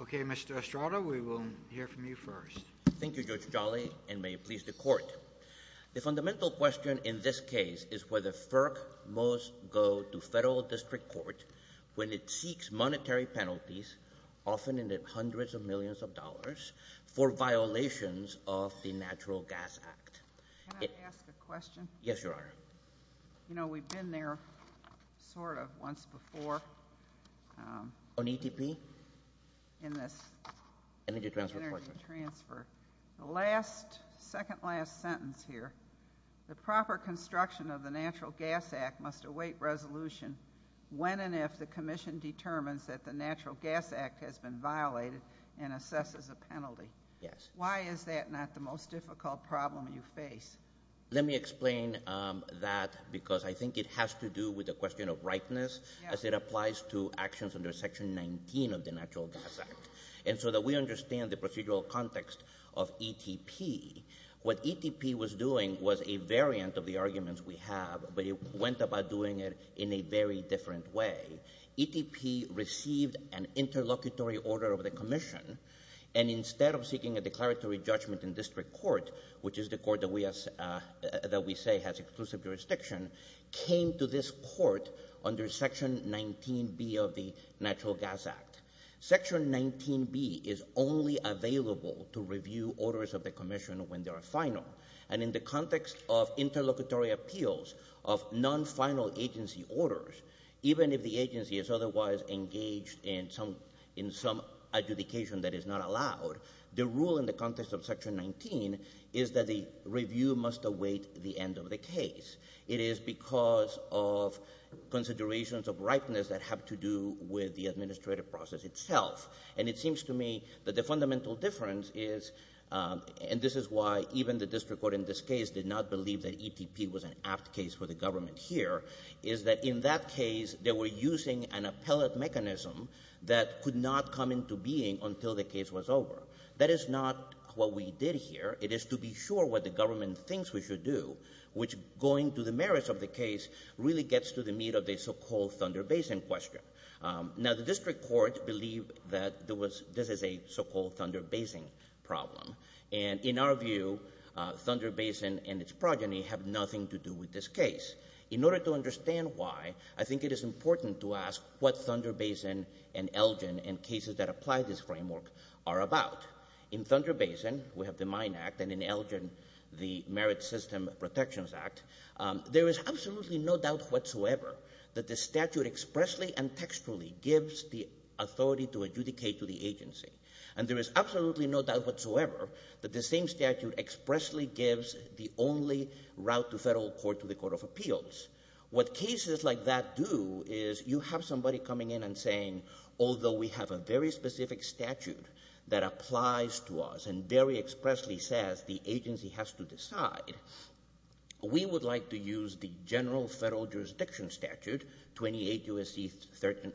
Okay, Mr. Estrada, we will hear from you first. Thank you, Judge Jolly, and may it please the Court. The fundamental question in this case is whether FERC must go to federal district court when it seeks monetary penalties, often in the hundreds of millions of dollars, for violations of the Natural Gas Act. Can I ask a question? Yes, Your Honor. You know, we've been there, sort of, once before on ETP, in this Energy Transfer Courtroom. The last, second-last sentence here, the proper construction of the Natural Gas Act must await resolution when and if the Commission determines that the Natural Gas Act has been violated and assesses a penalty. Why is that not the most difficult problem you face? Let me explain that, because I think it has to do with the question of rightness, as it applies to actions under Section 19 of the Natural Gas Act. And so that we understand the procedural context of ETP, what ETP was doing was a variant of the arguments we have, but it went about doing it in a very different way. ETP received an interlocutory order of the Commission, and instead of seeking a declaratory judgment in district court, which is the court that we say has exclusive jurisdiction, came to this court under Section 19B of the Natural Gas Act. Section 19B is only available to review orders of the Commission when they are final. And in the context of interlocutory appeals of non-final agency orders, even if the agency is otherwise engaged in some adjudication that is not allowed, the rule in the context of Section 19 is that the review must await the end of the case. It is because of considerations of rightness that have to do with the administrative process itself. And it seems to me that the fundamental difference is, and this is why even the district court in this case did not believe that ETP was an apt case for the government here, is that in that case, they were using an appellate mechanism that could not come into being until the case was over. That is not what we did here. It is to be sure what the government thinks we should do, which, going to the merits of the case, really gets to the meat of the so-called Thunder Basin question. Now, the district court believed that this is a so-called Thunder Basin problem. And in our view, Thunder Basin and its progeny have nothing to do with this case. In order to understand why, I think it is important to ask what Thunder Basin and Elgin and cases that apply this framework are about. In Thunder Basin, we have the Mine Act, and in Elgin, the Merit System Protections Act. There is absolutely no doubt whatsoever that the statute expressly and textually gives the authority to adjudicate to the agency. And there is absolutely no doubt whatsoever that the same statute expressly gives the only route to federal court to the Court of Appeals. What cases like that do is you have somebody coming in and saying, although we have a very specific statute that applies to us and very expressly says the agency has to decide, we would like to use the General Federal Jurisdiction Statute, 28 U.S.C. Section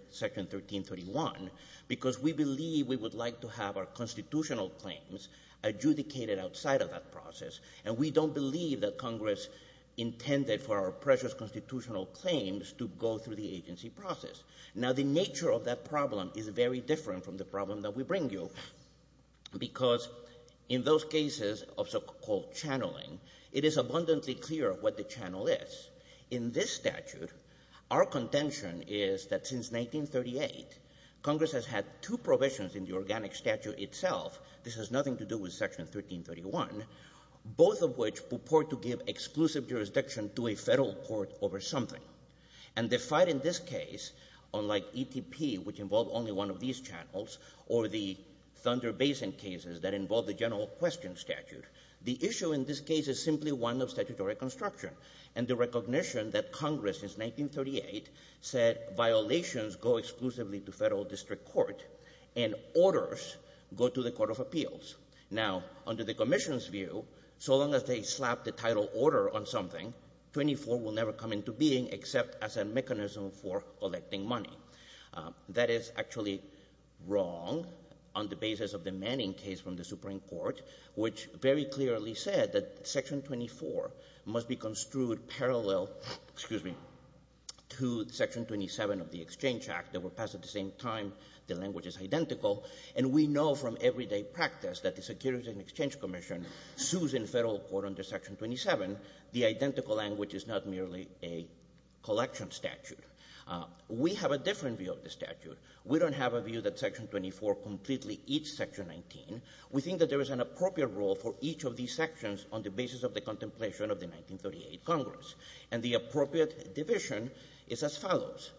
1331, because we believe we would like to have our constitutional claims adjudicated outside of that process. And we don't believe that Congress intended for our precious constitutional claims to go through the agency process. Now the nature of that problem is very different from the problem that we bring you, because in those cases of so-called channeling, it is abundantly clear what the channel is. In this statute, our contention is that since 1938, Congress has had two provisions in the statute, both of which purport to give exclusive jurisdiction to a federal court over something. And the fight in this case, unlike ETP, which involved only one of these channels, or the Thunder Basin cases that involved the general question statute, the issue in this case is simply one of statutory construction. And the recognition that Congress, since 1938, said violations go exclusively to federal district court and orders go to the Court of Appeals. Now under the commission's view, so long as they slap the title order on something, 24 will never come into being except as a mechanism for collecting money. That is actually wrong on the basis of the Manning case from the Supreme Court, which very clearly said that Section 24 must be construed parallel, excuse me, to Section 27 of the Exchange Act that were passed at the same time, the language is identical. And we know from everyday practice that the Securities and Exchange Commission sues in federal court under Section 27. The identical language is not merely a collection statute. We have a different view of the statute. We don't have a view that Section 24 completely eats Section 19. We think that there is an appropriate role for each of these sections on the basis of the contemplation of the 1938 Congress. And the appropriate division is as follows.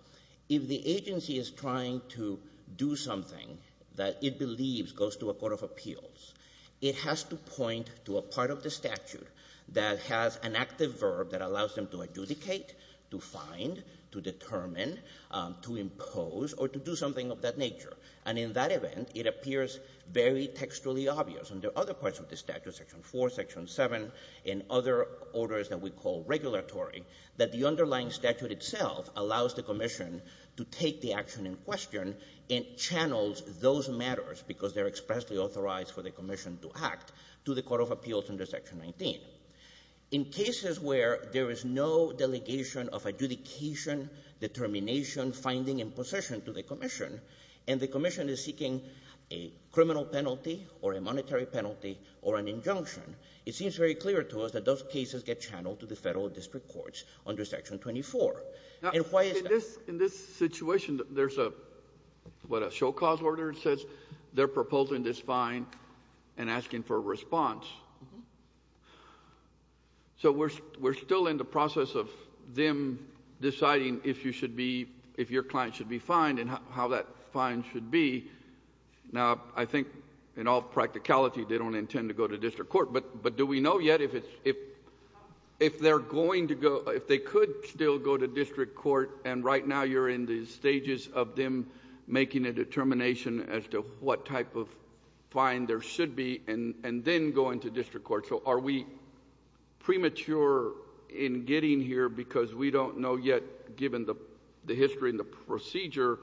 If the agency is trying to do something that it believes goes to a court of appeals, it has to point to a part of the statute that has an active verb that allows them to adjudicate, to find, to determine, to impose, or to do something of that nature. And in that event, it appears very textually obvious in the other parts of the statute, Section 4, Section 7, and other orders that we call regulatory, that the underlying position to take the action in question and channels those matters, because they're expressly authorized for the commission to act, to the court of appeals under Section 19. In cases where there is no delegation of adjudication, determination, finding, and possession to the commission, and the commission is seeking a criminal penalty or a monetary penalty or an injunction, it seems very clear to us that those cases get channeled to the federal district courts under Section 24. And why is that? In this situation, there's a, what, a show cause order, it says? They're proposing this fine and asking for a response. So we're still in the process of them deciding if your client should be fined and how that fine should be. Now, I think in all practicality, they don't intend to go to district court, but do we Now you're in the stages of them making a determination as to what type of fine there should be and then going to district court. So are we premature in getting here because we don't know yet, given the history and the procedure,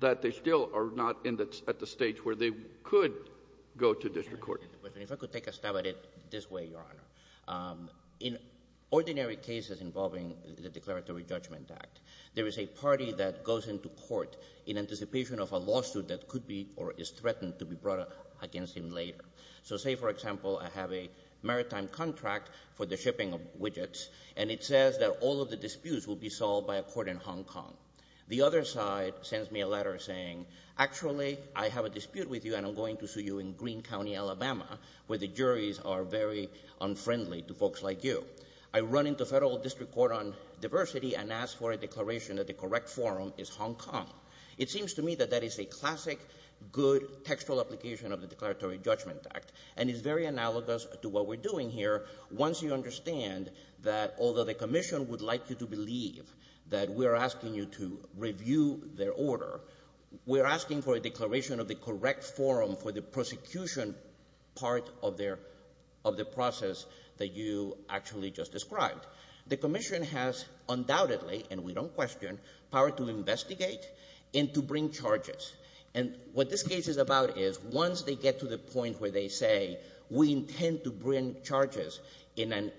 that they still are not at the stage where they could go to district court? If I could take a stab at it this way, Your Honor. In ordinary cases involving the Declaratory Judgment Act, there is a party that goes into court in anticipation of a lawsuit that could be or is threatened to be brought against him later. So say, for example, I have a maritime contract for the shipping of widgets, and it says that all of the disputes will be solved by a court in Hong Kong. The other side sends me a letter saying, actually, I have a dispute with you and I'm going to very unfriendly to folks like you. I run into federal district court on diversity and ask for a declaration that the correct forum is Hong Kong. It seems to me that that is a classic, good, textual application of the Declaratory Judgment Act. And it's very analogous to what we're doing here. Once you understand that although the commission would like you to believe that we're asking you to review their order, we're asking for a declaration of the correct forum for the procedure of the process that you actually just described. The commission has undoubtedly, and we don't question, power to investigate and to bring charges. And what this case is about is once they get to the point where they say we intend to bring charges in an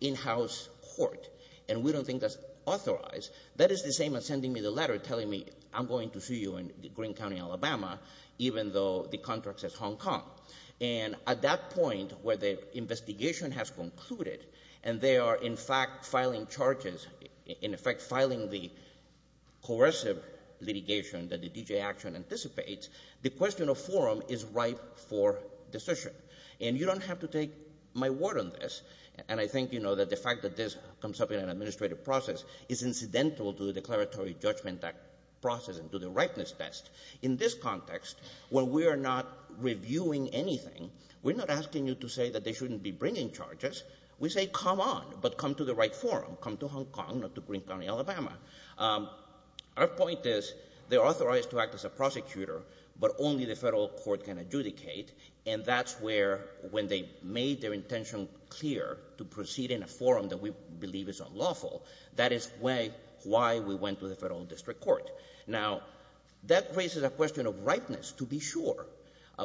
in-house court, and we don't think that's authorized, that is the same as sending me the letter telling me I'm going to sue you in Greene County, Alabama, even though the contract says Hong Kong. And at that point where the investigation has concluded and they are in fact filing charges, in effect filing the coercive litigation that the DGA Action anticipates, the question of forum is ripe for decision. And you don't have to take my word on this, and I think you know that the fact that this comes up in an administrative process is incidental to the Declaratory Judgment Act process and to the ripeness test. In this context, when we are not reviewing anything, we're not asking you to say that they shouldn't be bringing charges. We say come on, but come to the right forum. Come to Hong Kong, not to Greene County, Alabama. Our point is they're authorized to act as a prosecutor, but only the federal court can adjudicate, and that's where when they made their intention clear to proceed in a forum that we believe is unlawful, that is why we went to the federal district court. Now, that raises a question of ripeness, to be sure,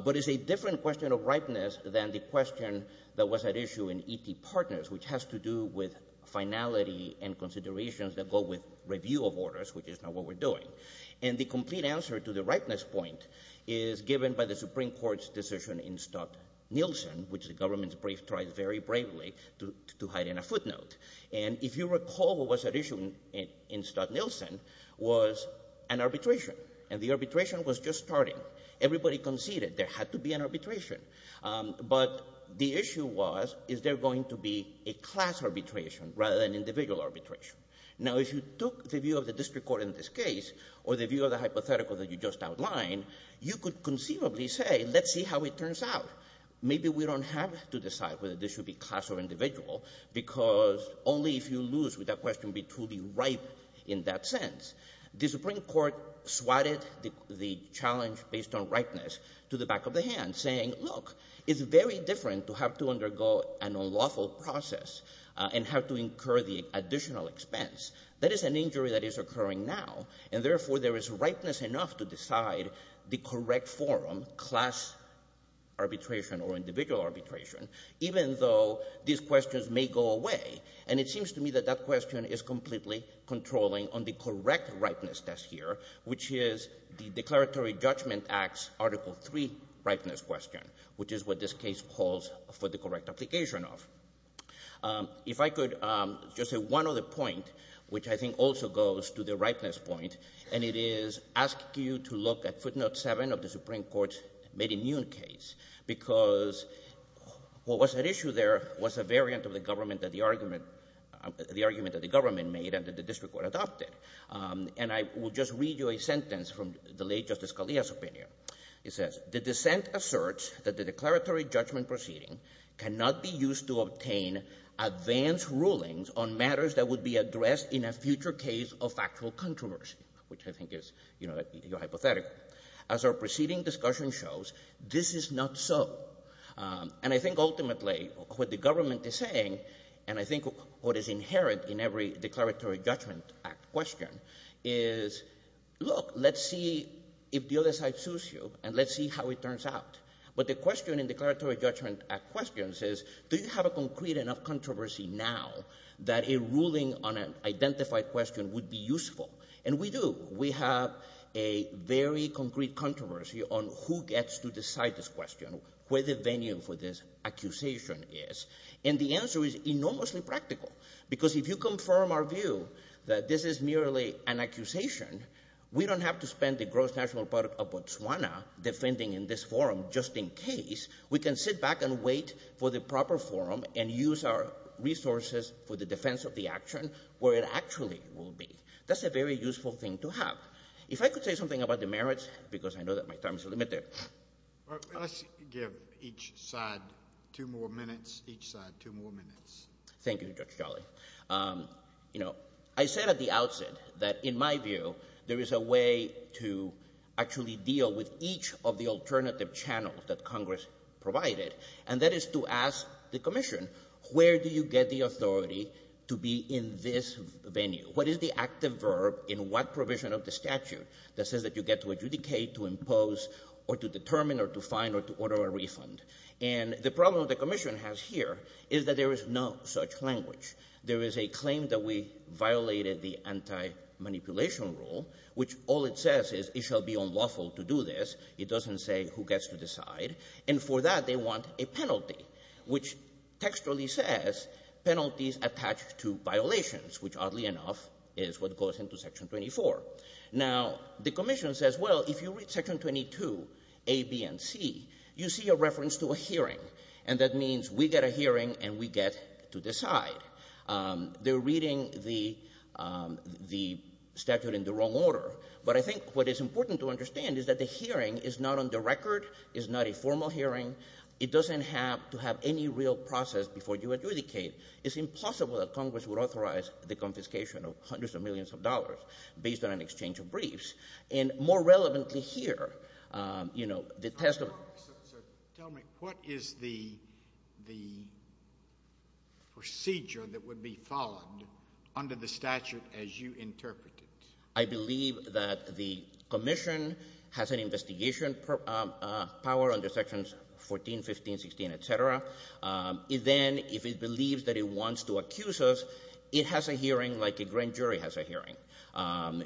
but it's a different question of ripeness than the question that was at issue in ET Partners, which has to do with finality and considerations that go with review of orders, which is not what we're doing. And the complete answer to the ripeness point is given by the Supreme Court's decision in Stott-Nielsen, which the government tries very bravely to hide in a footnote. And if you recall what was at issue in Stott-Nielsen was an arbitration, and the arbitration was just starting. Everybody conceded there had to be an arbitration, but the issue was is there going to be a class arbitration rather than individual arbitration? Now, if you took the view of the district court in this case or the view of the hypothetical that you just outlined, you could conceivably say let's see how it turns out. Maybe we don't have to decide whether this should be class or individual because only if you lose would that question be truly ripe in that sense. The Supreme Court swatted the challenge based on ripeness to the back of the hand, saying look, it's very different to have to undergo an unlawful process and have to incur the additional expense. That is an injury that is occurring now, and therefore there is ripeness enough to decide the correct form, class arbitration or individual arbitration, even though these questions may go away. And it seems to me that that question is completely controlling on the correct ripeness test here, which is the Declaratory Judgment Act's Article III ripeness question, which is what this case calls for the correct application of. If I could just say one other point, which I think also goes to the ripeness point, and it is ask you to look at footnote 7 of the Supreme Court's mid-immune case, because what was at issue there was a variant of the argument that the government made and that the district court adopted. And I will just read you a sentence from the late Justice Scalia's opinion. It says, the dissent asserts that the declaratory judgment proceeding cannot be used to obtain advanced rulings on matters that would be addressed in a future case of factual controversy, which I think is, you know, hypothetical. As our preceding discussion shows, this is not so. And I think ultimately what the government is saying, and I think what is inherent in every Declaratory Judgment Act question is, look, let's see if the other side sues you and let's see how it turns out. But the question in Declaratory Judgment Act questions is, do you have a concrete enough controversy now that a ruling on an identified question would be useful? And we do. We have a very concrete controversy on who gets to decide this question, where the venue for this accusation is. And the answer is enormously practical, because if you confirm our view that this is merely an accusation, we don't have to spend the gross national product of Botswana defending in this forum just in case. We can sit back and wait for the proper forum and use our resources for the defense of the action where it actually will be. That's a very useful thing to have. If I could say something about the merits, because I know that my time is limited. Let's give each side two more minutes, each side two more minutes. Thank you, Judge Charlie. You know, I said at the outset that in my view, there is a way to actually deal with each of the alternative channels that Congress provided, and that is to ask the Commission, where do you get the authority to be in this venue? What is the active verb in what provision of the statute that says that you get to adjudicate, to impose, or to determine, or to find, or to order a refund? And the problem the Commission has here is that there is no such language. There is a claim that we violated the anti-manipulation rule, which all it says is it shall be unlawful to do this. It doesn't say who gets to decide. And for that, they want a penalty, which textually says penalties attached to violations, which oddly enough is what goes into Section 24. Now, the Commission says, well, if you read Section 22a, b, and c, you see a reference to a hearing, and that means we get a hearing and we get to decide. They're reading the statute in the wrong order, but I think what is important to understand is that the hearing is not on the record, is not a formal hearing. It doesn't have to have any real process before you adjudicate. It's impossible that Congress would authorize the confiscation of hundreds of millions of dollars based on an exchange of briefs. And more relevantly here, you know, the test of So tell me, what is the procedure that would be followed under the statute as you interpret it? I believe that the Commission has an investigation power under Sections 14, 15, 16, et cetera. Then, if it believes that it wants to accuse us, it has a hearing like a grand jury has a hearing.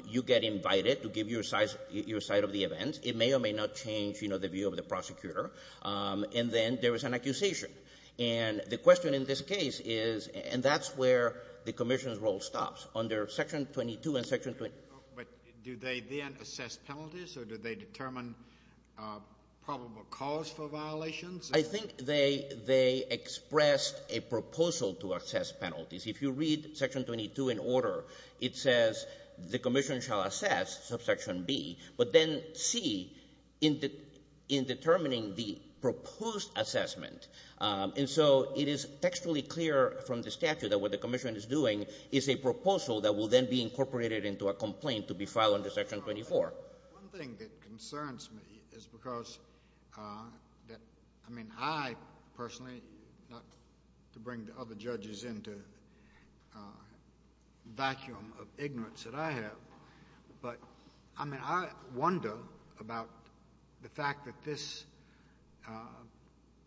You get invited to give your side of the event. It may or may not change, you know, the view of the prosecutor. And then there is an accusation. And the question in this case is, and that's where the Commission's role stops, under Section 22 and Section 20. But do they then assess penalties, or do they determine probable cause for violations? I think they expressed a proposal to assess penalties. If you read Section 22 in order, it says the Commission shall assess, subsection B, but then C, in determining the proposed assessment. And so it is textually clear from the statute that what the Commission is doing is a proposal that will then be incorporated into a complaint to be filed under Section 24. One thing that concerns me is because, I mean, I personally, not to bring the other judges into a vacuum of ignorance that I have, but I mean, I wonder about the fact that this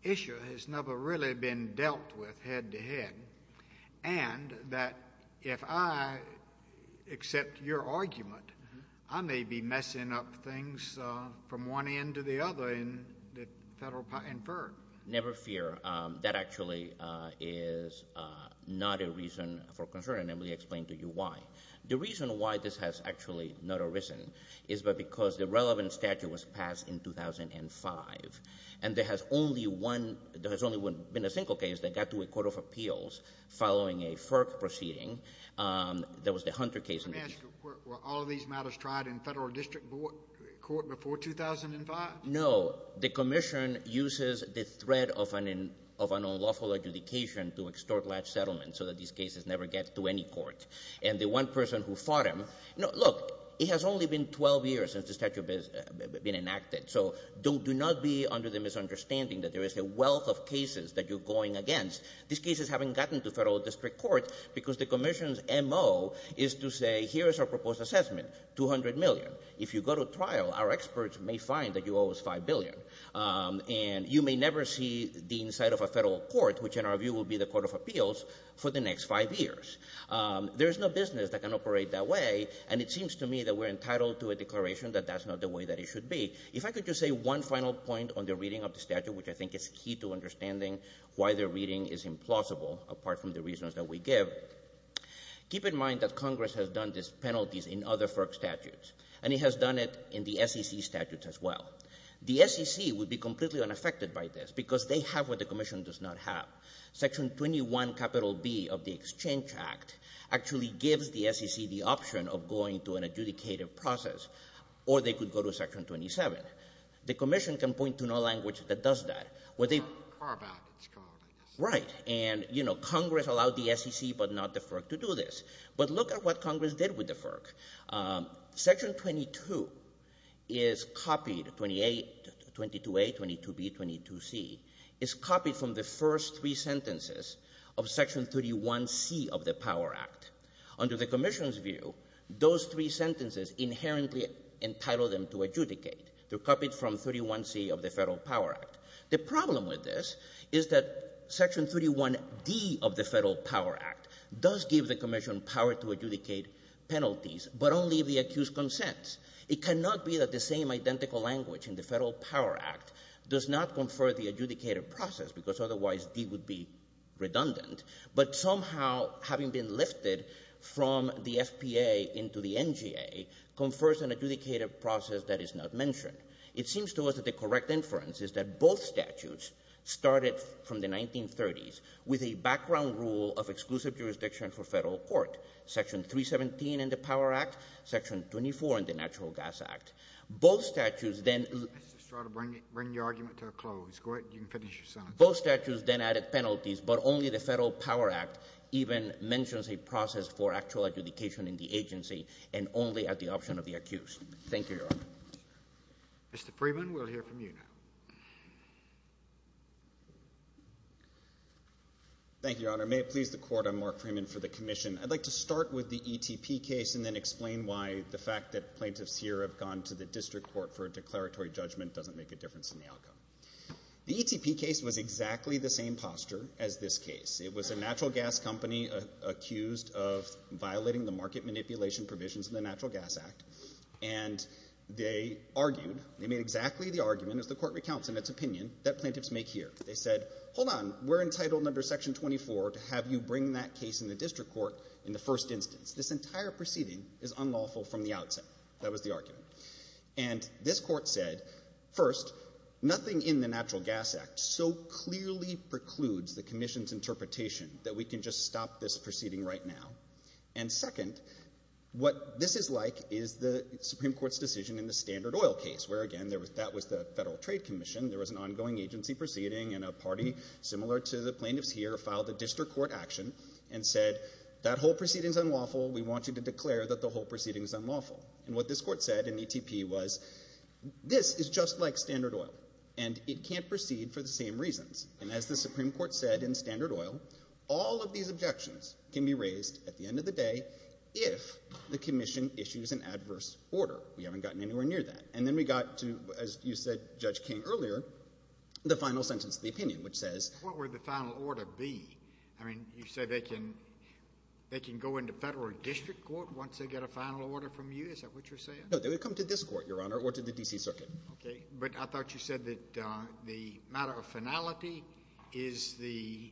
issue has never really been dealt with head to head, and that if I accept your argument, I may be messing up things from one end to the other in FERC. Never fear. That actually is not a reason for concern, and let me explain to you why. The reason why this has actually not arisen is because the relevant statute was passed in 2005, and there has only been a single case that got to a court of appeals following a FERC proceeding. There was the Hunter case. I'm asking, were all of these matters tried in Federal District Court before 2005? No. The Commission uses the threat of an unlawful adjudication to extort latch settlement so that these cases never get to any court. And the one person who fought him, look, it has only been 12 years since the statute has been enacted, so do not be under the misunderstanding that there is a wealth of cases that you're going against. These cases haven't gotten to Federal District Court because the Commission's M.O. is to say here is our proposed assessment, $200 million. If you go to trial, our experts may find that you owe us $5 billion, and you may never see the inside of a Federal Court, which in our view will be the court of appeals, for the next five years. There is no business that can operate that way, and it seems to me that we're entitled to a declaration that that's not the way that it should be. If I could just say one final point on the reading of the statute, which I think is key to understanding why the reading is implausible, apart from the reasons that we give, keep in mind that Congress has done these penalties in other FERC statutes, and it has done it in the SEC statutes as well. The SEC would be completely unaffected by this because they have what the Commission does not have. Section 21 capital B of the Exchange Act actually gives the SEC the option of going to an adjudicated process, or they could go to section 27. The Commission can point to no language that does that. Right. And, you know, Congress allowed the SEC but not the FERC to do this. But look at what Congress did with the FERC. Section 22 is copied, 22A, 22B, 22C, is copied from the first three sentences of section 31C of the Power Act. Under the Commission's view, those three sentences inherently entitle them to adjudicate. They're copied from 31C of the Federal Power Act. The problem with this is that section 31D of the Federal Power Act does give the Commission power to adjudicate penalties, but only the accused consents. It cannot be that the same identical language in the Federal Power Act does not confer the from the FPA into the NGA confers an adjudicated process that is not mentioned. It seems to us that the correct inference is that both statutes started from the 1930s with a background rule of exclusive jurisdiction for federal court, section 317 in the Power Act, section 24 in the Natural Gas Act. Both statutes then — Mr. Estrada, bring your argument to a close. Go ahead. You can finish your sentence. Both statutes then added penalties, but only the Federal Power Act even mentions a process for actual adjudication in the agency, and only at the option of the accused. Thank you, Your Honor. Mr. Freeman, we'll hear from you now. Thank you, Your Honor. May it please the Court, I'm Mark Freeman for the Commission. I'd like to start with the ETP case and then explain why the fact that plaintiffs here have gone to the District Court for a declaratory judgment doesn't make a difference in the outcome. The ETP case was exactly the same posture as this case. It was a natural gas company accused of violating the market manipulation provisions in the Natural Gas Act, and they argued — they made exactly the argument, as the Court recounts in its opinion, that plaintiffs make here. They said, hold on, we're entitled under section 24 to have you bring that case in the District Court in the first instance. This entire proceeding is unlawful from the outset. That was the argument. And this Court said, first, nothing in the Natural Gas Act so clearly precludes the Commission's interpretation, that we can just stop this proceeding right now. And second, what this is like is the Supreme Court's decision in the Standard Oil case, where again, that was the Federal Trade Commission, there was an ongoing agency proceeding, and a party similar to the plaintiffs here filed a District Court action and said, that whole proceeding is unlawful, we want you to declare that the whole proceeding is unlawful. And what this Court said in ETP was, this is just like Standard Oil, and it can't proceed for the same reasons. And as the Supreme Court said in Standard Oil, all of these objections can be raised at the end of the day if the Commission issues an adverse order. We haven't gotten anywhere near that. And then we got to, as you said, Judge King, earlier, the final sentence of the opinion, which says… What would the final order be? I mean, you say they can go into Federal or District Court once they get a final order from you? Is that what you're saying? No. They would come to this Court, Your Honor, or to the D.C. Circuit. Okay. But I thought you said that the matter of finality is the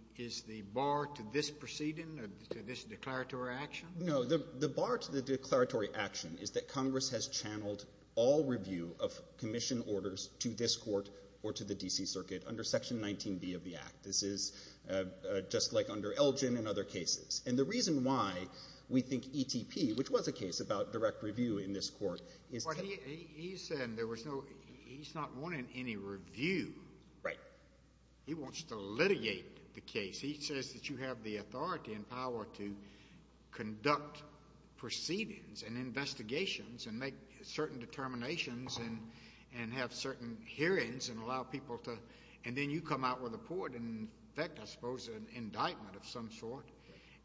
bar to this proceeding, to this declaratory action? No. The bar to the declaratory action is that Congress has channeled all review of Commission orders to this Court or to the D.C. Circuit under Section 19b of the Act. This is just like under Elgin and other cases. And the reason why we think ETP, which was a case about direct review in this Court, is that… Well, he said there was no… He's not wanting any review. Right. He wants to litigate the case. He says that you have the authority and power to conduct proceedings and investigations and make certain determinations and have certain hearings and allow people to… And then you come out with a court and, in fact, I suppose, an indictment of some sort,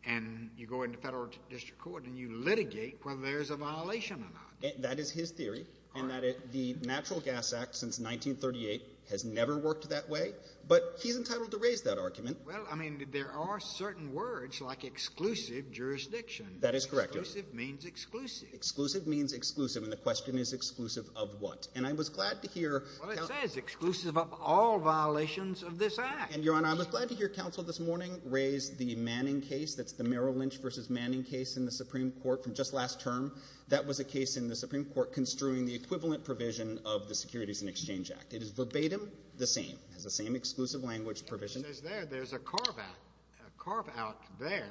and you go into Federal or District Court, and you litigate whether there's a violation or not. That is his theory. All right. And that the Natural Gas Act since 1938 has never worked that way, but he's entitled to raise that argument. Well, I mean, there are certain words like exclusive jurisdiction. That is correct, Your Honor. Exclusive means exclusive. Exclusive means exclusive, and the question is exclusive of what? And I was glad to hear… Well, it says exclusive of all violations of this Act. And, Your Honor, I was glad to hear counsel this morning raise the Manning case, that's the Merrill Lynch v. Manning case in the Supreme Court from just last term. That was a case in the Supreme Court construing the equivalent provision of the Securities and Exchange Act. It is verbatim the same. It has the same exclusive language provision. It just says there there's a carve-out, a carve-out there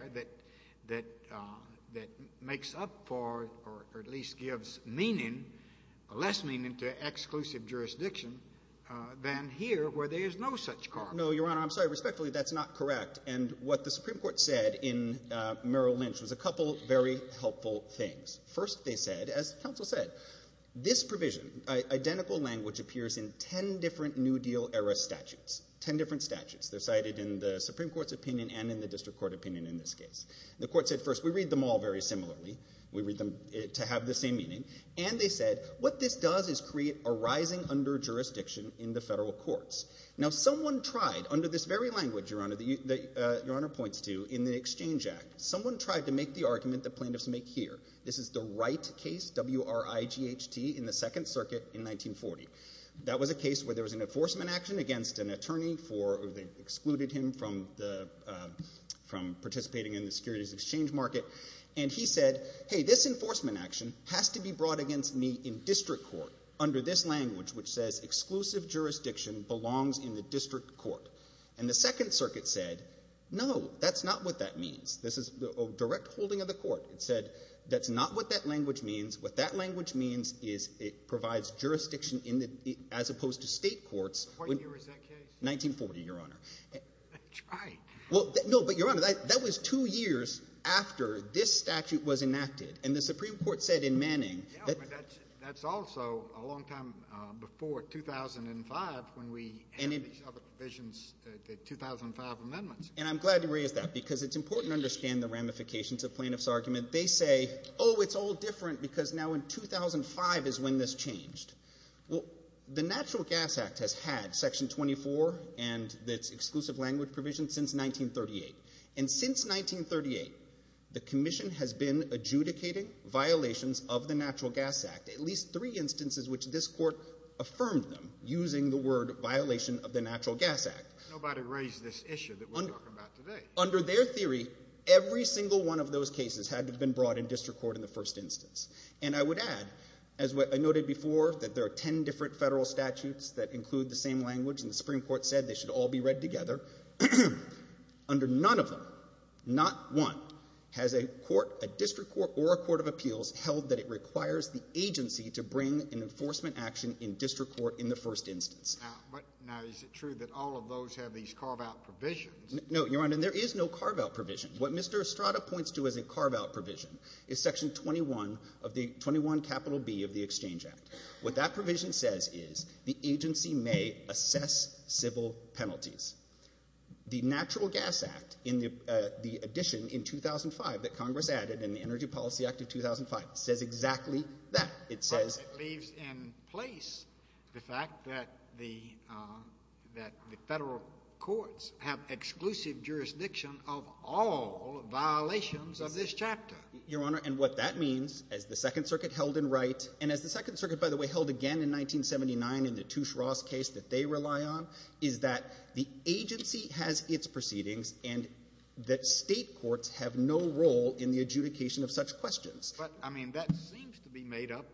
that makes up for or at least gives meaning or less meaning to exclusive jurisdiction than here where there is no such carve-out. No, Your Honor, I'm sorry. Respectfully, that's not correct. And what the Supreme Court said in Merrill Lynch was a couple of very helpful things. First they said, as counsel said, this provision, identical language, appears in ten different New Deal-era statutes. Ten different statutes. They're cited in the Supreme Court's opinion and in the district court opinion in this case. The court said first, we read them all very similarly. We read them to have the same meaning. And they said, what this does is create a rising under-jurisdiction in the federal courts. Now someone tried, under this very language, Your Honor, that Your Honor points to in the Exchange Act, someone tried to make the argument that plaintiffs make here. This is the Wright case, W-R-I-G-H-T, in the Second Circuit in 1940. That was a case where there was an enforcement action against an attorney for, they excluded him from participating in the securities exchange market. And he said, hey, this enforcement action has to be brought against me in district court under this language, which says exclusive jurisdiction belongs in the district court. And the Second Circuit said, no, that's not what that means. This is a direct holding of the court. It said, that's not what that language means. What that language means is it provides jurisdiction in the, as opposed to state courts. What year is that case? 1940, Your Honor. That's right. Well, no, but Your Honor, that was two years after this statute was enacted. And the Supreme Court said in Manning that. That's also a long time before 2005 when we had these other provisions, the 2005 amendments. And I'm glad you raised that because it's important to understand the ramifications of plaintiffs' argument. They say, oh, it's all different because now in 2005 is when this changed. Well, the Natural Gas Act has had Section 24 and its exclusive language provision since 1938. And since 1938, the Commission has been adjudicating violations of the Natural Gas Act, at least three instances which this court affirmed them using the word violation of the Natural Gas Act. Nobody raised this issue that we're talking about today. Under their theory, every single one of those cases had to have been brought in district court in the first instance. And I would add, as I noted before, that there are 10 different federal statutes that include the same language. And the Supreme Court said they should all be read together. Under none of them, not one, has a court, a district court or a court of appeals held that it requires the agency to bring an enforcement action in district court in the first instance. Now, is it true that all of those have these carve-out provisions? No, Your Honor. And there is no carve-out provision. What Mr. Estrada points to as a carve-out provision is Section 21 of the 21 capital B of the Exchange Act. What that provision says is the agency may assess civil penalties. The Natural Gas Act, in the addition in 2005 that Congress added in the Energy Policy Act of 2005, says exactly that. It says... But it leaves in place the fact that the federal courts have exclusive jurisdiction of all violations of this chapter. Your Honor, and what that means, as the Second Circuit held in right, and as the Second Circuit by the way held again in 1979 in the Touche Ross case that they rely on, is that the agency has its proceedings and that State courts have no role in the adjudication of such questions. But, I mean, that seems to be made up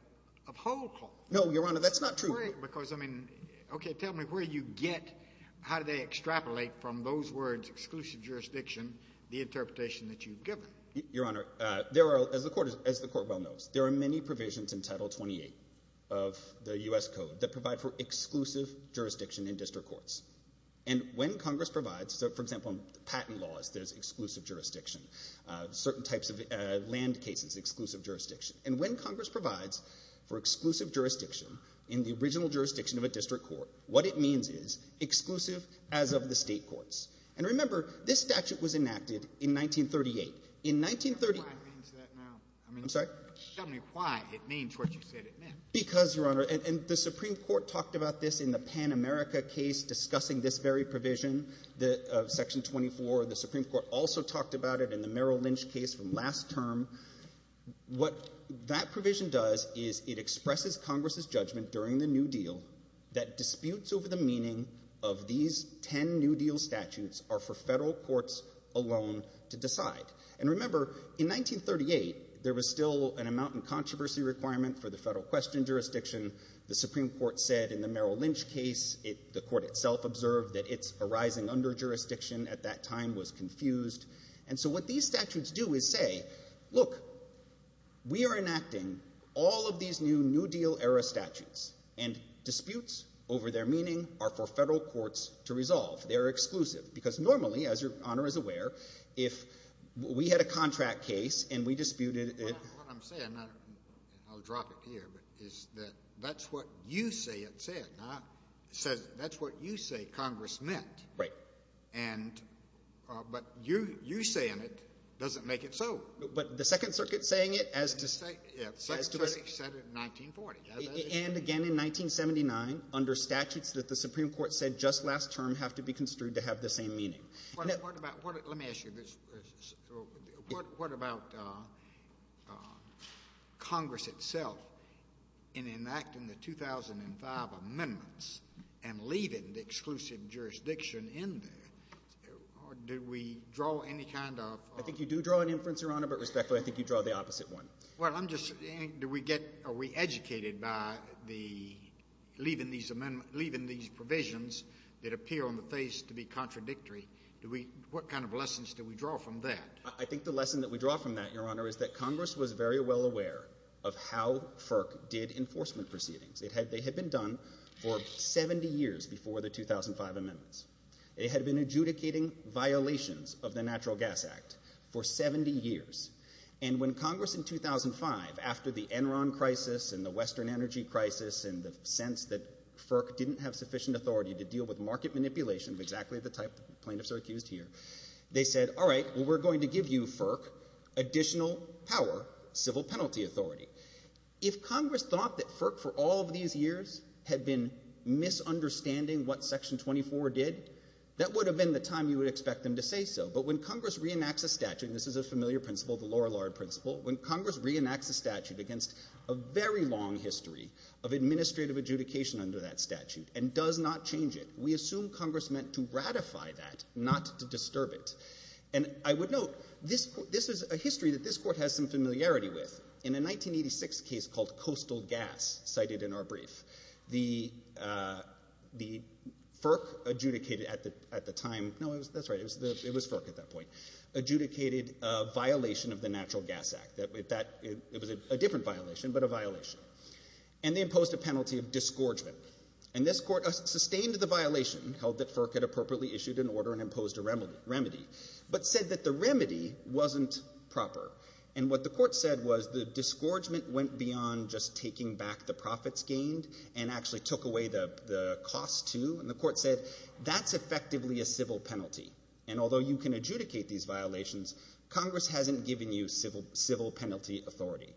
of whole courts. No, Your Honor, that's not true. Because, I mean, okay, tell me where you get, how do they extrapolate from those words exclusive jurisdiction, the interpretation that you've given? Your Honor, there are, as the Court, as the Court well knows, there are many provisions in Title 28 of the U.S. Code that provide for exclusive jurisdiction in district courts. And when Congress provides, for example, patent laws, there's exclusive jurisdiction. Certain types of land cases, exclusive jurisdiction. And when Congress provides for exclusive jurisdiction in the original jurisdiction of a district court, what it means is exclusive as of the State courts. And remember, this statute was enacted in 1938. In 1930... Tell me why it means that now. I'm sorry? Tell me why it means what you said it meant. Because, Your Honor, and the Supreme Court talked about this in the Pan-America case discussing this very provision of Section 24. The Supreme Court also talked about it in the Merrill Lynch case from last term. What that provision does is it expresses Congress's judgment during the New Deal that disputes over the meaning of these ten New Deal statutes are for Federal courts alone to decide. And remember, in 1938, there was still an amount in controversy requirement for the Federal question jurisdiction. The Supreme Court said in the Merrill Lynch case, the Court itself observed that its arising under jurisdiction at that time was confused. And so what these statutes do is say, look, we are enacting all of these new New Deal era statutes, and disputes over their meaning are for Federal courts to resolve. They are exclusive. Because normally, as Your Honor is aware, if we had a contract case and we disputed it... What I'm saying, and I'll drop it here, is that that's what you say it said. That's what you say Congress meant. Right. But you saying it doesn't make it so. But the Second Circuit saying it as to... Yeah, the Secretary said it in 1940. And again in 1979, under statutes that the Supreme Court said just last term have to be construed to have the same meaning. What about, let me ask you this, what about Congress itself in enacting the 2005 amendments and leaving the exclusive jurisdiction in there, or did we draw any kind of... I think you do draw an inference, Your Honor, but respectfully, I think you draw the opposite one. Well, I'm just saying, do we get, are we educated by the leaving these provisions that appear on the face to be contradictory? What kind of lessons do we draw from that? I think the lesson that we draw from that, Your Honor, is that Congress was very well aware of how FERC did enforcement proceedings. They had been done for 70 years before the 2005 amendments. It had been adjudicating violations of the Natural Gas Act for 70 years. And when Congress in 2005, after the Enron crisis and the Western Energy crisis and the lack of sufficient authority to deal with market manipulation, exactly the type plaintiffs are accused here, they said, all right, well, we're going to give you, FERC, additional power, civil penalty authority. If Congress thought that FERC for all of these years had been misunderstanding what Section 24 did, that would have been the time you would expect them to say so. But when Congress reenacts a statute, and this is a familiar principle, the Lorillard principle, when Congress reenacts a statute against a very long history of administrative adjudication under that statute and does not change it, we assume Congress meant to ratify that, not to disturb it. And I would note, this is a history that this Court has some familiarity with. In a 1986 case called Coastal Gas cited in our brief, the FERC adjudicated at the time – no, that's right, it was FERC at that point – adjudicated a violation of the Natural Gas Act. It was a different violation, but a violation. And they imposed a penalty of disgorgement. And this Court sustained the violation, held that FERC had appropriately issued an order and imposed a remedy, but said that the remedy wasn't proper. And what the Court said was the disgorgement went beyond just taking back the profits gained and actually took away the cost, too. And the Court said, that's effectively a civil penalty. And although you can adjudicate these violations, Congress hasn't given you civil penalty authority.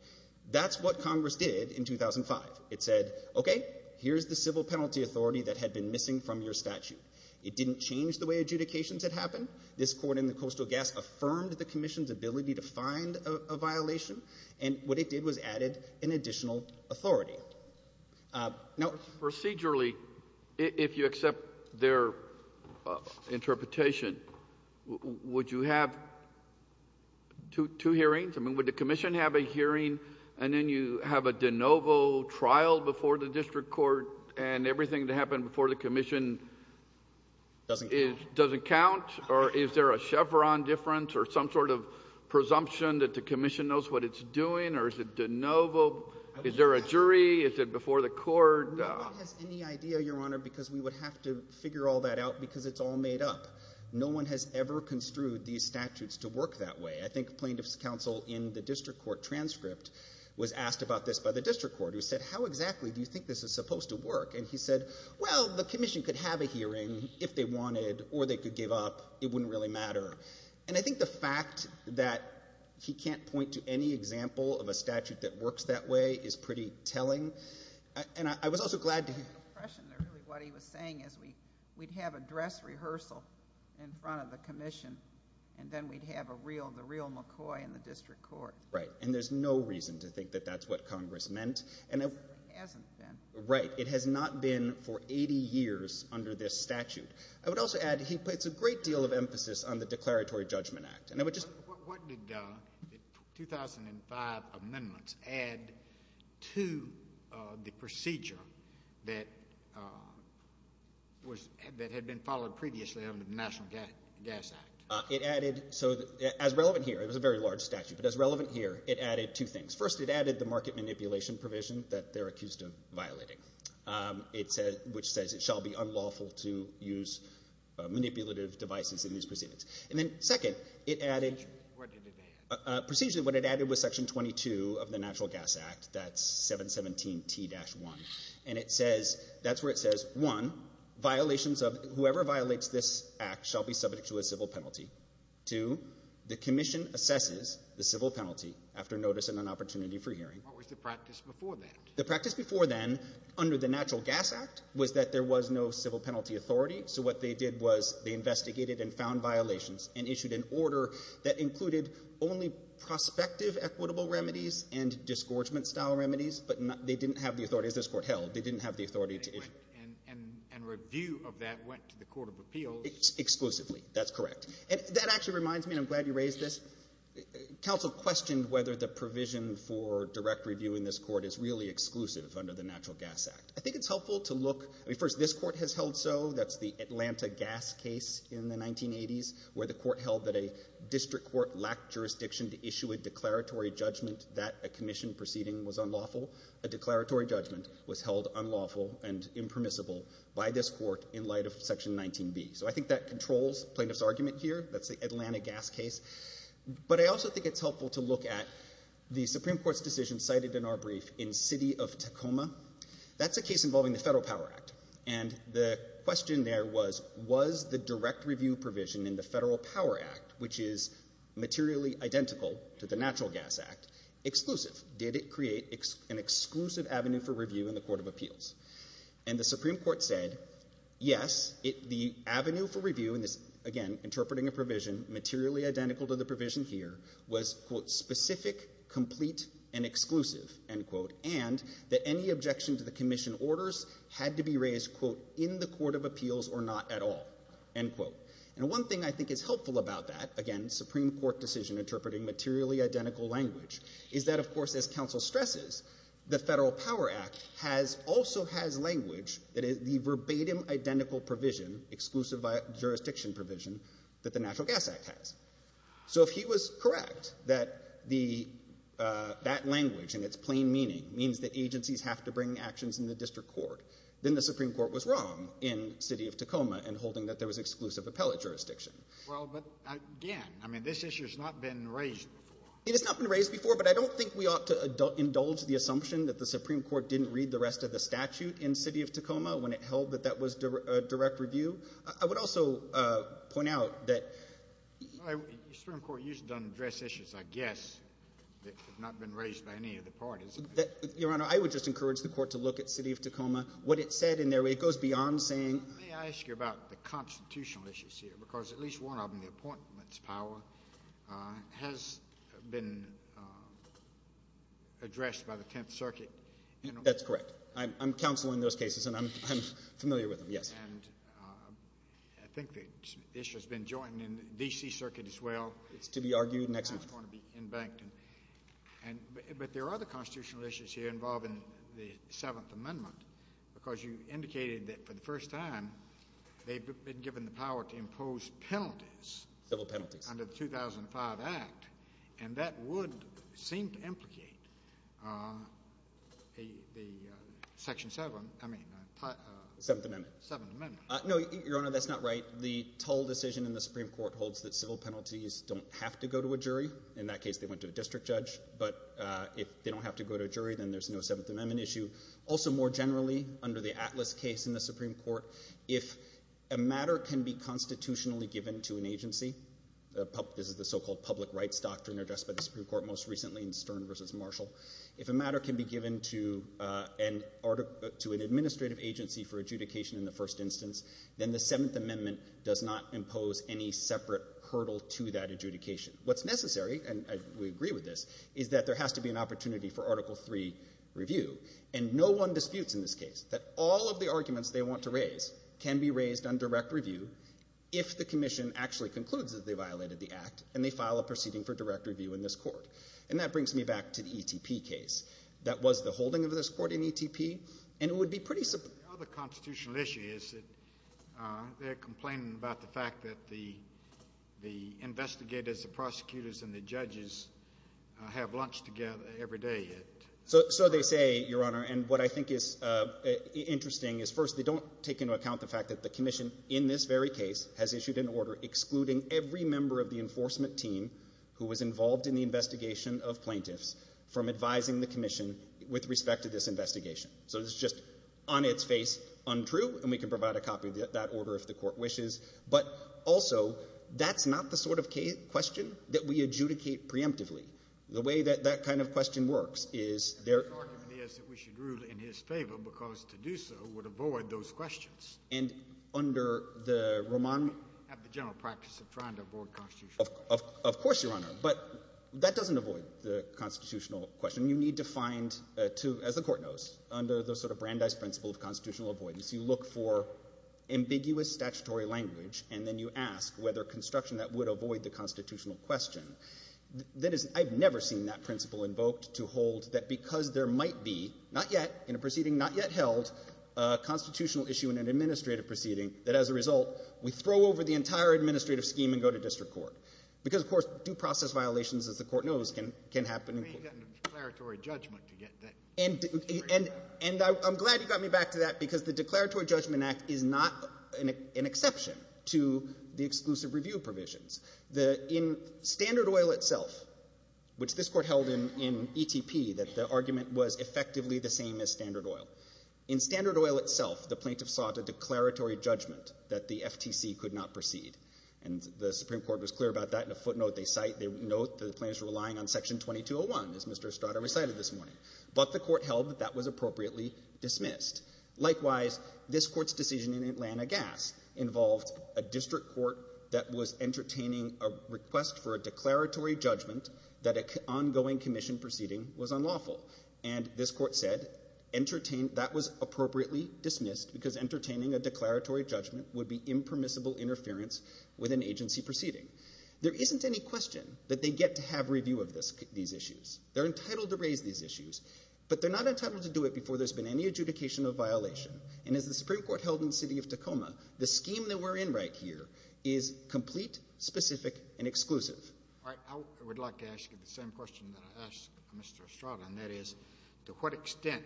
That's what Congress did in 2005. It said, okay, here's the civil penalty authority that had been missing from your statute. It didn't change the way adjudications had happened. This Court in the Coastal Gas affirmed the Commission's ability to find a violation. And what it did was added an additional authority. Now, procedurally, if you accept their interpretation, would you have two hearings? I mean, would the Commission have a hearing and then you have a de novo trial before the District Court and everything that happened before the Commission doesn't count? Or is there a Chevron difference or some sort of presumption that the Commission knows what it's doing? Or is it de novo? Is there a jury? Is it before the Court? No one has any idea, Your Honor, because we would have to figure all that out because it's all made up. No one has ever construed these statutes to work that way. I think Plaintiff's Counsel in the District Court transcript was asked about this by the District Court, who said, how exactly do you think this is supposed to work? And he said, well, the Commission could have a hearing if they wanted or they could give up. It wouldn't really matter. And I think the fact that he can't point to any example of a statute that works that way is pretty telling. And I was also glad to hear— I had an impression that really what he was saying is we'd have a dress rehearsal in front of the Commission, and then we'd have the real McCoy in the District Court. Right. And there's no reason to think that that's what Congress meant. It hasn't been. Right. It has not been for 80 years under this statute. I would also add, he puts a great deal of emphasis on the Declaratory Judgment Act. And I would just— What did the 2005 amendments add to the procedure that had been followed previously under the National Gas Act? It added—so, as relevant here, it was a very large statute, but as relevant here, it added two things. First, it added the market manipulation provision that they're accused of violating, which says it shall be unlawful to use manipulative devices in these proceedings. And then, second, it added— Precisely, what did it add? Precisely, what it added was Section 22 of the Natural Gas Act, that's 717T-1. And it says—that's where it says, one, violations of—whoever violates this act shall be subject to a civil penalty. Two, the Commission assesses the civil penalty after notice and an opportunity for hearing. What was the practice before that? The practice before then, under the Natural Gas Act, was that there was no civil penalty authority. So what they did was they investigated and found violations and issued an order that included only prospective equitable remedies and disgorgement-style remedies, but they didn't have the authority, as this Court held, they didn't have the authority to issue— And review of that went to the Court of Appeals. Exclusively, that's correct. And that actually reminds me, and I'm glad you raised this, counsel questioned whether the provision for direct review in this Court is really exclusive under the Natural Gas Act. I think it's helpful to look—I mean, first, this Court has held so. That's the Atlanta gas case in the 1980s, where the Court held that a district court lacked jurisdiction to issue a declaratory judgment that a Commission proceeding was unlawful. A declaratory judgment was held unlawful and impermissible by this Court in light of Section 19b. So I think that controls plaintiff's argument here. That's the Atlanta gas case. But I also think it's helpful to look at the Supreme Court's decision cited in our brief in City of Tacoma. That's a case involving the Federal Power Act. And the question there was, was the direct review provision in the Federal Power Act, which is materially identical to the Natural Gas Act, exclusive? Did it create an exclusive avenue for review in the Court of Appeals? And the Supreme Court said, yes, the avenue for review—again, interpreting a provision materially identical to the provision here—was, quote, specific, complete, and exclusive, end quote, and that any objection to the Commission orders had to be raised, quote, in the Court of Appeals or not at all, end quote. And one thing I think is helpful about that—again, Supreme Court decision interpreting materially identical language—is that, of course, as counsel stresses, the Federal Power Act has also has language that is the verbatim identical provision, exclusive jurisdiction provision, that the Natural Gas Act has. So if he was correct that the—that language and its plain meaning means that agencies have to bring actions in the district court, then the Supreme Court was wrong in City of Tacoma in holding that there was exclusive appellate jurisdiction. Well, but again, I mean, this issue has not been raised before. It has not been raised before, but I don't think we ought to indulge the assumption that the Supreme Court didn't read the rest of the statute in City of Tacoma when it held that that was a direct review. I would also point out that— The Supreme Court used it to address issues, I guess, that have not been raised by any of the parties. Your Honor, I would just encourage the Court to look at City of Tacoma. What it said in there, it goes beyond saying— May I ask you about the constitutional issues here? Because at least one of them, the Appointments Power, has been addressed by the Tenth Circuit. That's correct. I'm counsel in those cases, and I'm familiar with them, yes. And I think that this has been joined in the D.C. Circuit as well. It's to be argued next week. It's going to be in Bankton. And—but there are other constitutional issues here involving the Seventh Amendment, because you indicated that, for the first time, they've been given the power to impose penalties— Civil penalties. —under the 2005 Act, and that would seem to implicate the Section 7—I mean, the— Seventh Amendment. Seventh Amendment. No, Your Honor, that's not right. The toll decision in the Supreme Court holds that civil penalties don't have to go to a jury. In that case, they went to a district judge. But if they don't have to go to a jury, then there's no Seventh Amendment issue. Also, more generally, under the Atlas case in the Supreme Court, if a matter can be constitutionally given to an agency—this is the so-called public rights doctrine addressed by the Supreme Court most recently in Stern v. Marshall—if a matter can be given to an administrative agency for adjudication in the first instance, then the Seventh Amendment does not impose any separate hurdle to that adjudication. What's necessary—and we agree with this—is that there has to be an opportunity for Article III review. And no one disputes in this case that all of the arguments they want to raise can be raised on direct review if the Commission actually concludes that they violated the Act and they file a proceeding for direct review in this Court. And that brings me back to the E.T.P. case. That was the holding of this Court in E.T.P., and it would be pretty— The other constitutional issue is that they're complaining about the fact that the investigators, the prosecutors, and the judges have lunch together every day. So they say, Your Honor, and what I think is interesting is, first, they don't take into account the fact that the Commission in this very case has issued an order excluding every member of the enforcement team who was involved in the investigation of plaintiffs from advising the Commission with respect to this investigation. So it's just on its face untrue, and we can provide a copy of that order if the Court wishes. But also, that's not the sort of question that we adjudicate preemptively. The way that that kind of question works is there— The argument is that we should rule in his favor because to do so would avoid those questions. And under the Roman— At the general practice of trying to avoid constitutional questions. Of course, Your Honor. But that doesn't avoid the constitutional question. You need to find, as the Court knows, under the sort of Brandeis principle of constitutional avoidance, you look for ambiguous statutory language, and then you ask whether construction that would avoid the constitutional question, that is—I've never seen that principle invoked to hold that because there might be, not yet, in a proceeding not yet held, a constitutional issue in an administrative proceeding, that as a result, we throw over the entire administrative scheme and go to district court. Because of course, due process violations, as the Court knows, can happen— You may have gotten a declaratory judgment to get that— And I'm glad you got me back to that because the Declaratory Judgment Act is not an exception to the exclusive review provisions. In Standard Oil itself, which this Court held in E.T.P. that the argument was effectively the same as Standard Oil, in Standard Oil itself, the plaintiff sought a declaratory judgment that the FTC could not proceed. And the Supreme Court was clear about that in a footnote they cite. They note that the plaintiffs were relying on Section 2201, as Mr. Estrada recited this morning. No court held that that was appropriately dismissed. Likewise, this Court's decision in Atlanta Gas involved a district court that was entertaining a request for a declaratory judgment that an ongoing commission proceeding was unlawful. And this Court said, that was appropriately dismissed because entertaining a declaratory judgment would be impermissible interference with an agency proceeding. There isn't any question that they get to have review of these issues. They're entitled to raise these issues, but they're not entitled to do it before there's been any adjudication of violation. And as the Supreme Court held in the city of Tacoma, the scheme that we're in right here is complete, specific, and exclusive. All right. I would like to ask you the same question that I asked Mr. Estrada, and that is to what extent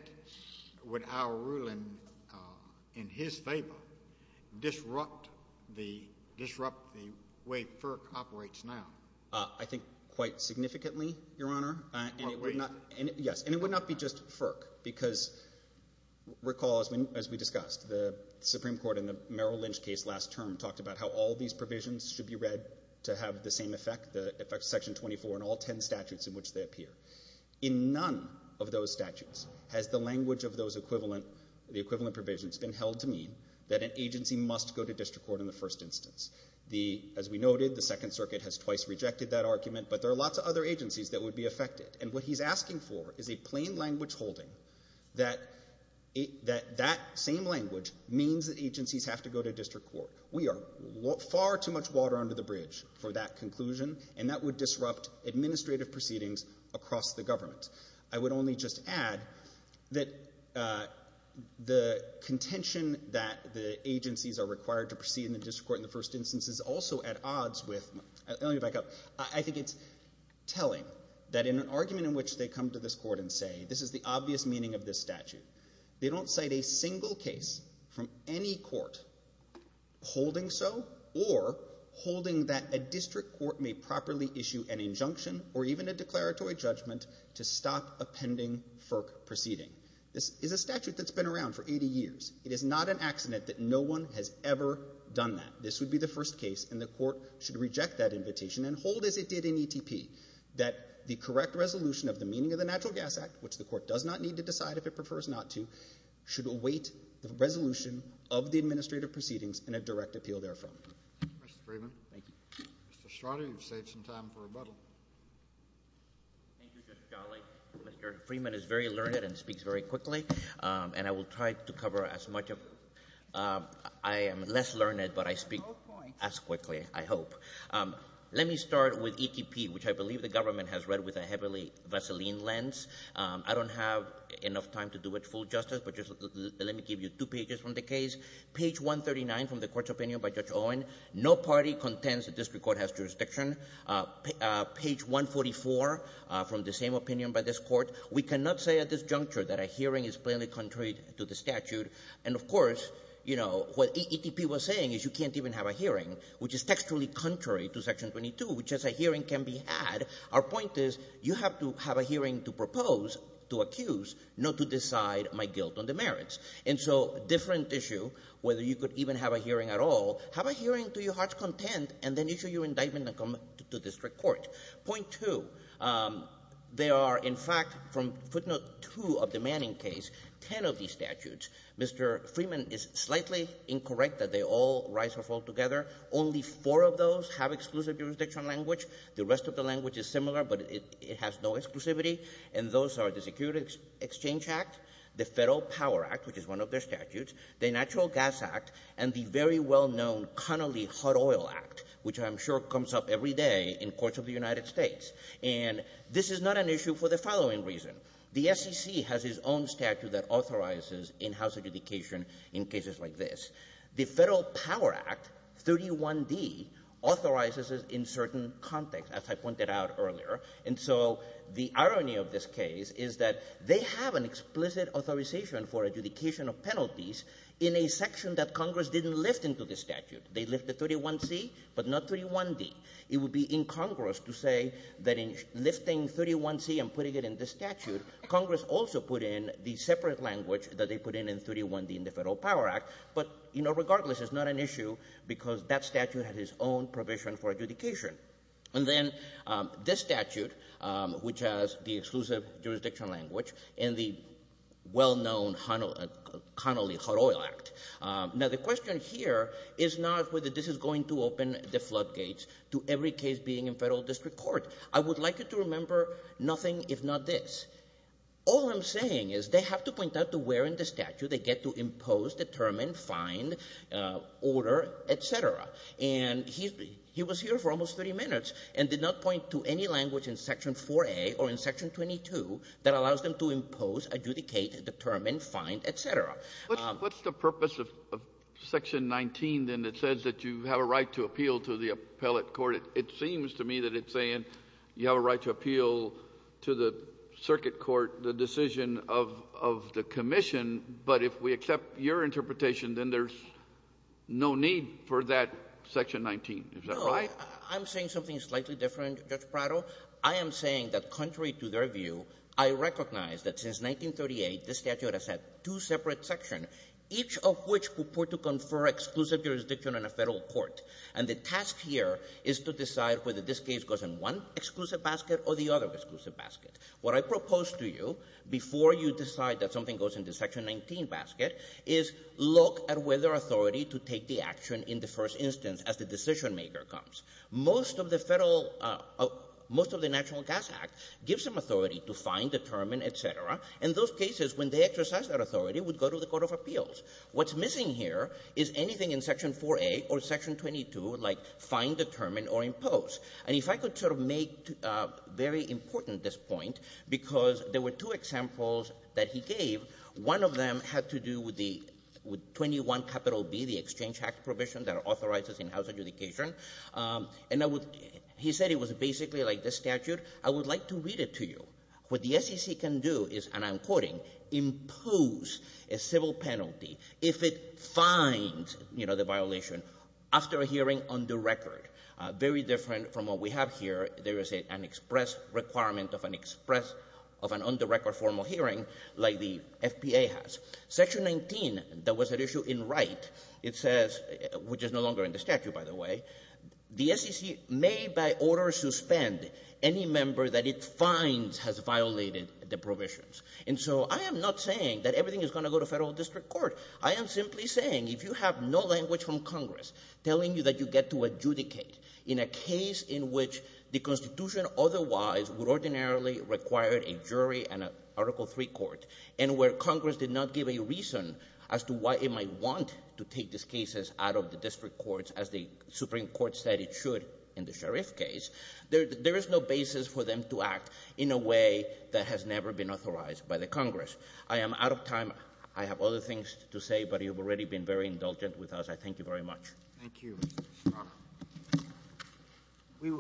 would our ruling in his favor disrupt the way FERC operates now? I think quite significantly, Your Honor, and it would not be just FERC, because recall, as we discussed, the Supreme Court in the Merrill Lynch case last term talked about how all these provisions should be read to have the same effect, the effect of Section 24 and all 10 statutes in which they appear. In none of those statutes has the language of the equivalent provisions been held to mean that an agency must go to district court in the first instance. As we noted, the Second Circuit has twice rejected that argument, but there are lots of other agencies that would be affected, and what he's asking for is a plain language holding that that same language means that agencies have to go to district court. We are far too much water under the bridge for that conclusion, and that would disrupt administrative proceedings across the government. I would only just add that the contention that the agencies are required to proceed to district court in the first instance is also at odds with—let me back up—I think it's telling that in an argument in which they come to this Court and say, this is the obvious meaning of this statute, they don't cite a single case from any court holding so or holding that a district court may properly issue an injunction or even a declaratory judgment to stop a pending FERC proceeding. This is a statute that's been around for 80 years. It is not an accident that no one has ever done that. This would be the first case, and the Court should reject that invitation and hold as it did in ETP that the correct resolution of the meaning of the Natural Gas Act, which the Court does not need to decide if it prefers not to, should await the resolution of the administrative proceedings and a direct appeal therefrom. Mr. Freeman. Thank you. Mr. Estrada, you've saved some time for rebuttal. Thank you, Mr. Scali. Mr. Freeman is very learned and speaks very quickly, and I will try to cover as much of—I am less learned, but I speak as quickly, I hope. Let me start with ETP, which I believe the government has read with a heavily Vaseline lens. I don't have enough time to do it full justice, but just let me give you two pages from the case. Page 139 from the Court's opinion by Judge Owen, no party contends the district court has jurisdiction. Page 144 from the same opinion by this Court, we cannot say at this juncture that a hearing is plainly contrary to the statute. And of course, you know, what ETP was saying is you can't even have a hearing, which is textually contrary to Section 22, which is a hearing can be had. Our point is you have to have a hearing to propose, to accuse, not to decide my guilt on the merits. And so different issue, whether you could even have a hearing at all, have a hearing to your heart's content, and then issue your indictment and come to district court. Point two, there are, in fact, from footnote two of the Manning case, ten of these statutes. Mr. Freeman is slightly incorrect that they all rise or fall together. Only four of those have exclusive jurisdiction language. The rest of the language is similar, but it has no exclusivity. And those are the Security Exchange Act, the Federal Power Act, which is one of their statutes, the Natural Gas Act, and the very well-known Connolly Hot Oil Act, which I'm sure comes up every day in courts of the United States. And this is not an issue for the following reason. The SEC has its own statute that authorizes in-house adjudication in cases like this. The Federal Power Act, 31D, authorizes it in certain context, as I pointed out earlier. And so the irony of this case is that they have an explicit authorization for adjudication of penalties in a section that Congress didn't lift into this statute. They lifted 31C, but not 31D. It would be incongruous to say that in lifting 31C and putting it in this statute, Congress also put in the separate language that they put in in 31D in the Federal Power Act. But, you know, regardless, it's not an issue because that statute had its own provision for adjudication. And then this statute, which has the exclusive jurisdiction language and the well-known Connolly Hot Oil Act. Now, the question here is not whether this is going to open the floodgates to every case being in federal district court. I would like you to remember nothing if not this. All I'm saying is they have to point out to where in the statute they get to impose, determine, find, order, et cetera. And he was here for almost 30 minutes and did not point to any language in Section 4A or in Section 22 that allows them to impose, adjudicate, determine, find, et cetera. What's the purpose of Section 19, then, that says that you have a right to appeal to the appellate court? It seems to me that it's saying you have a right to appeal to the circuit court the decision of the commission. But if we accept your interpretation, then there's no need for that Section 19. Is that right? No. I'm saying something slightly different, Judge Prado. I am saying that contrary to their view, I recognize that since 1938, this statute has had two separate sections, each of which purport to confer exclusive jurisdiction on a federal court. And the task here is to decide whether this case goes in one exclusive basket or the other exclusive basket. What I propose to you before you decide that something goes into Section 19 basket is look at whether authority to take the action in the first instance as the decision maker comes. Most of the federal, most of the National Gas Act gives them authority to find, determine, et cetera. And those cases, when they exercise that authority, would go to the Court of Appeals. What's missing here is anything in Section 4A or Section 22 like find, determine, or impose. And if I could sort of make very important this point, because there were two examples that he gave. One of them had to do with the 21 capital B, the Exchange Act provision that authorizes in-house adjudication. And I would, he said it was basically like this statute. I would like to read it to you. What the SEC can do is, and I'm quoting, impose a civil penalty if it finds, you know, the record, very different from what we have here. There is an express requirement of an express, of an on-the-record formal hearing like the FBA has. Section 19, that was an issue in Wright, it says, which is no longer in the statute, by the way, the SEC may by order suspend any member that it finds has violated the provisions. And so I am not saying that everything is going to go to federal district court. I am simply saying if you have no language from Congress telling you that you get to adjudicate in a case in which the Constitution otherwise would ordinarily require a jury and an Article III court, and where Congress did not give a reason as to why it might want to take these cases out of the district courts as the Supreme Court said it should in the sheriff case, there is no basis for them to act in a way that has never been authorized by the Congress. I am out of time. I have other things to say, but you have already been very indulgent with us. I thank you very much. Thank you.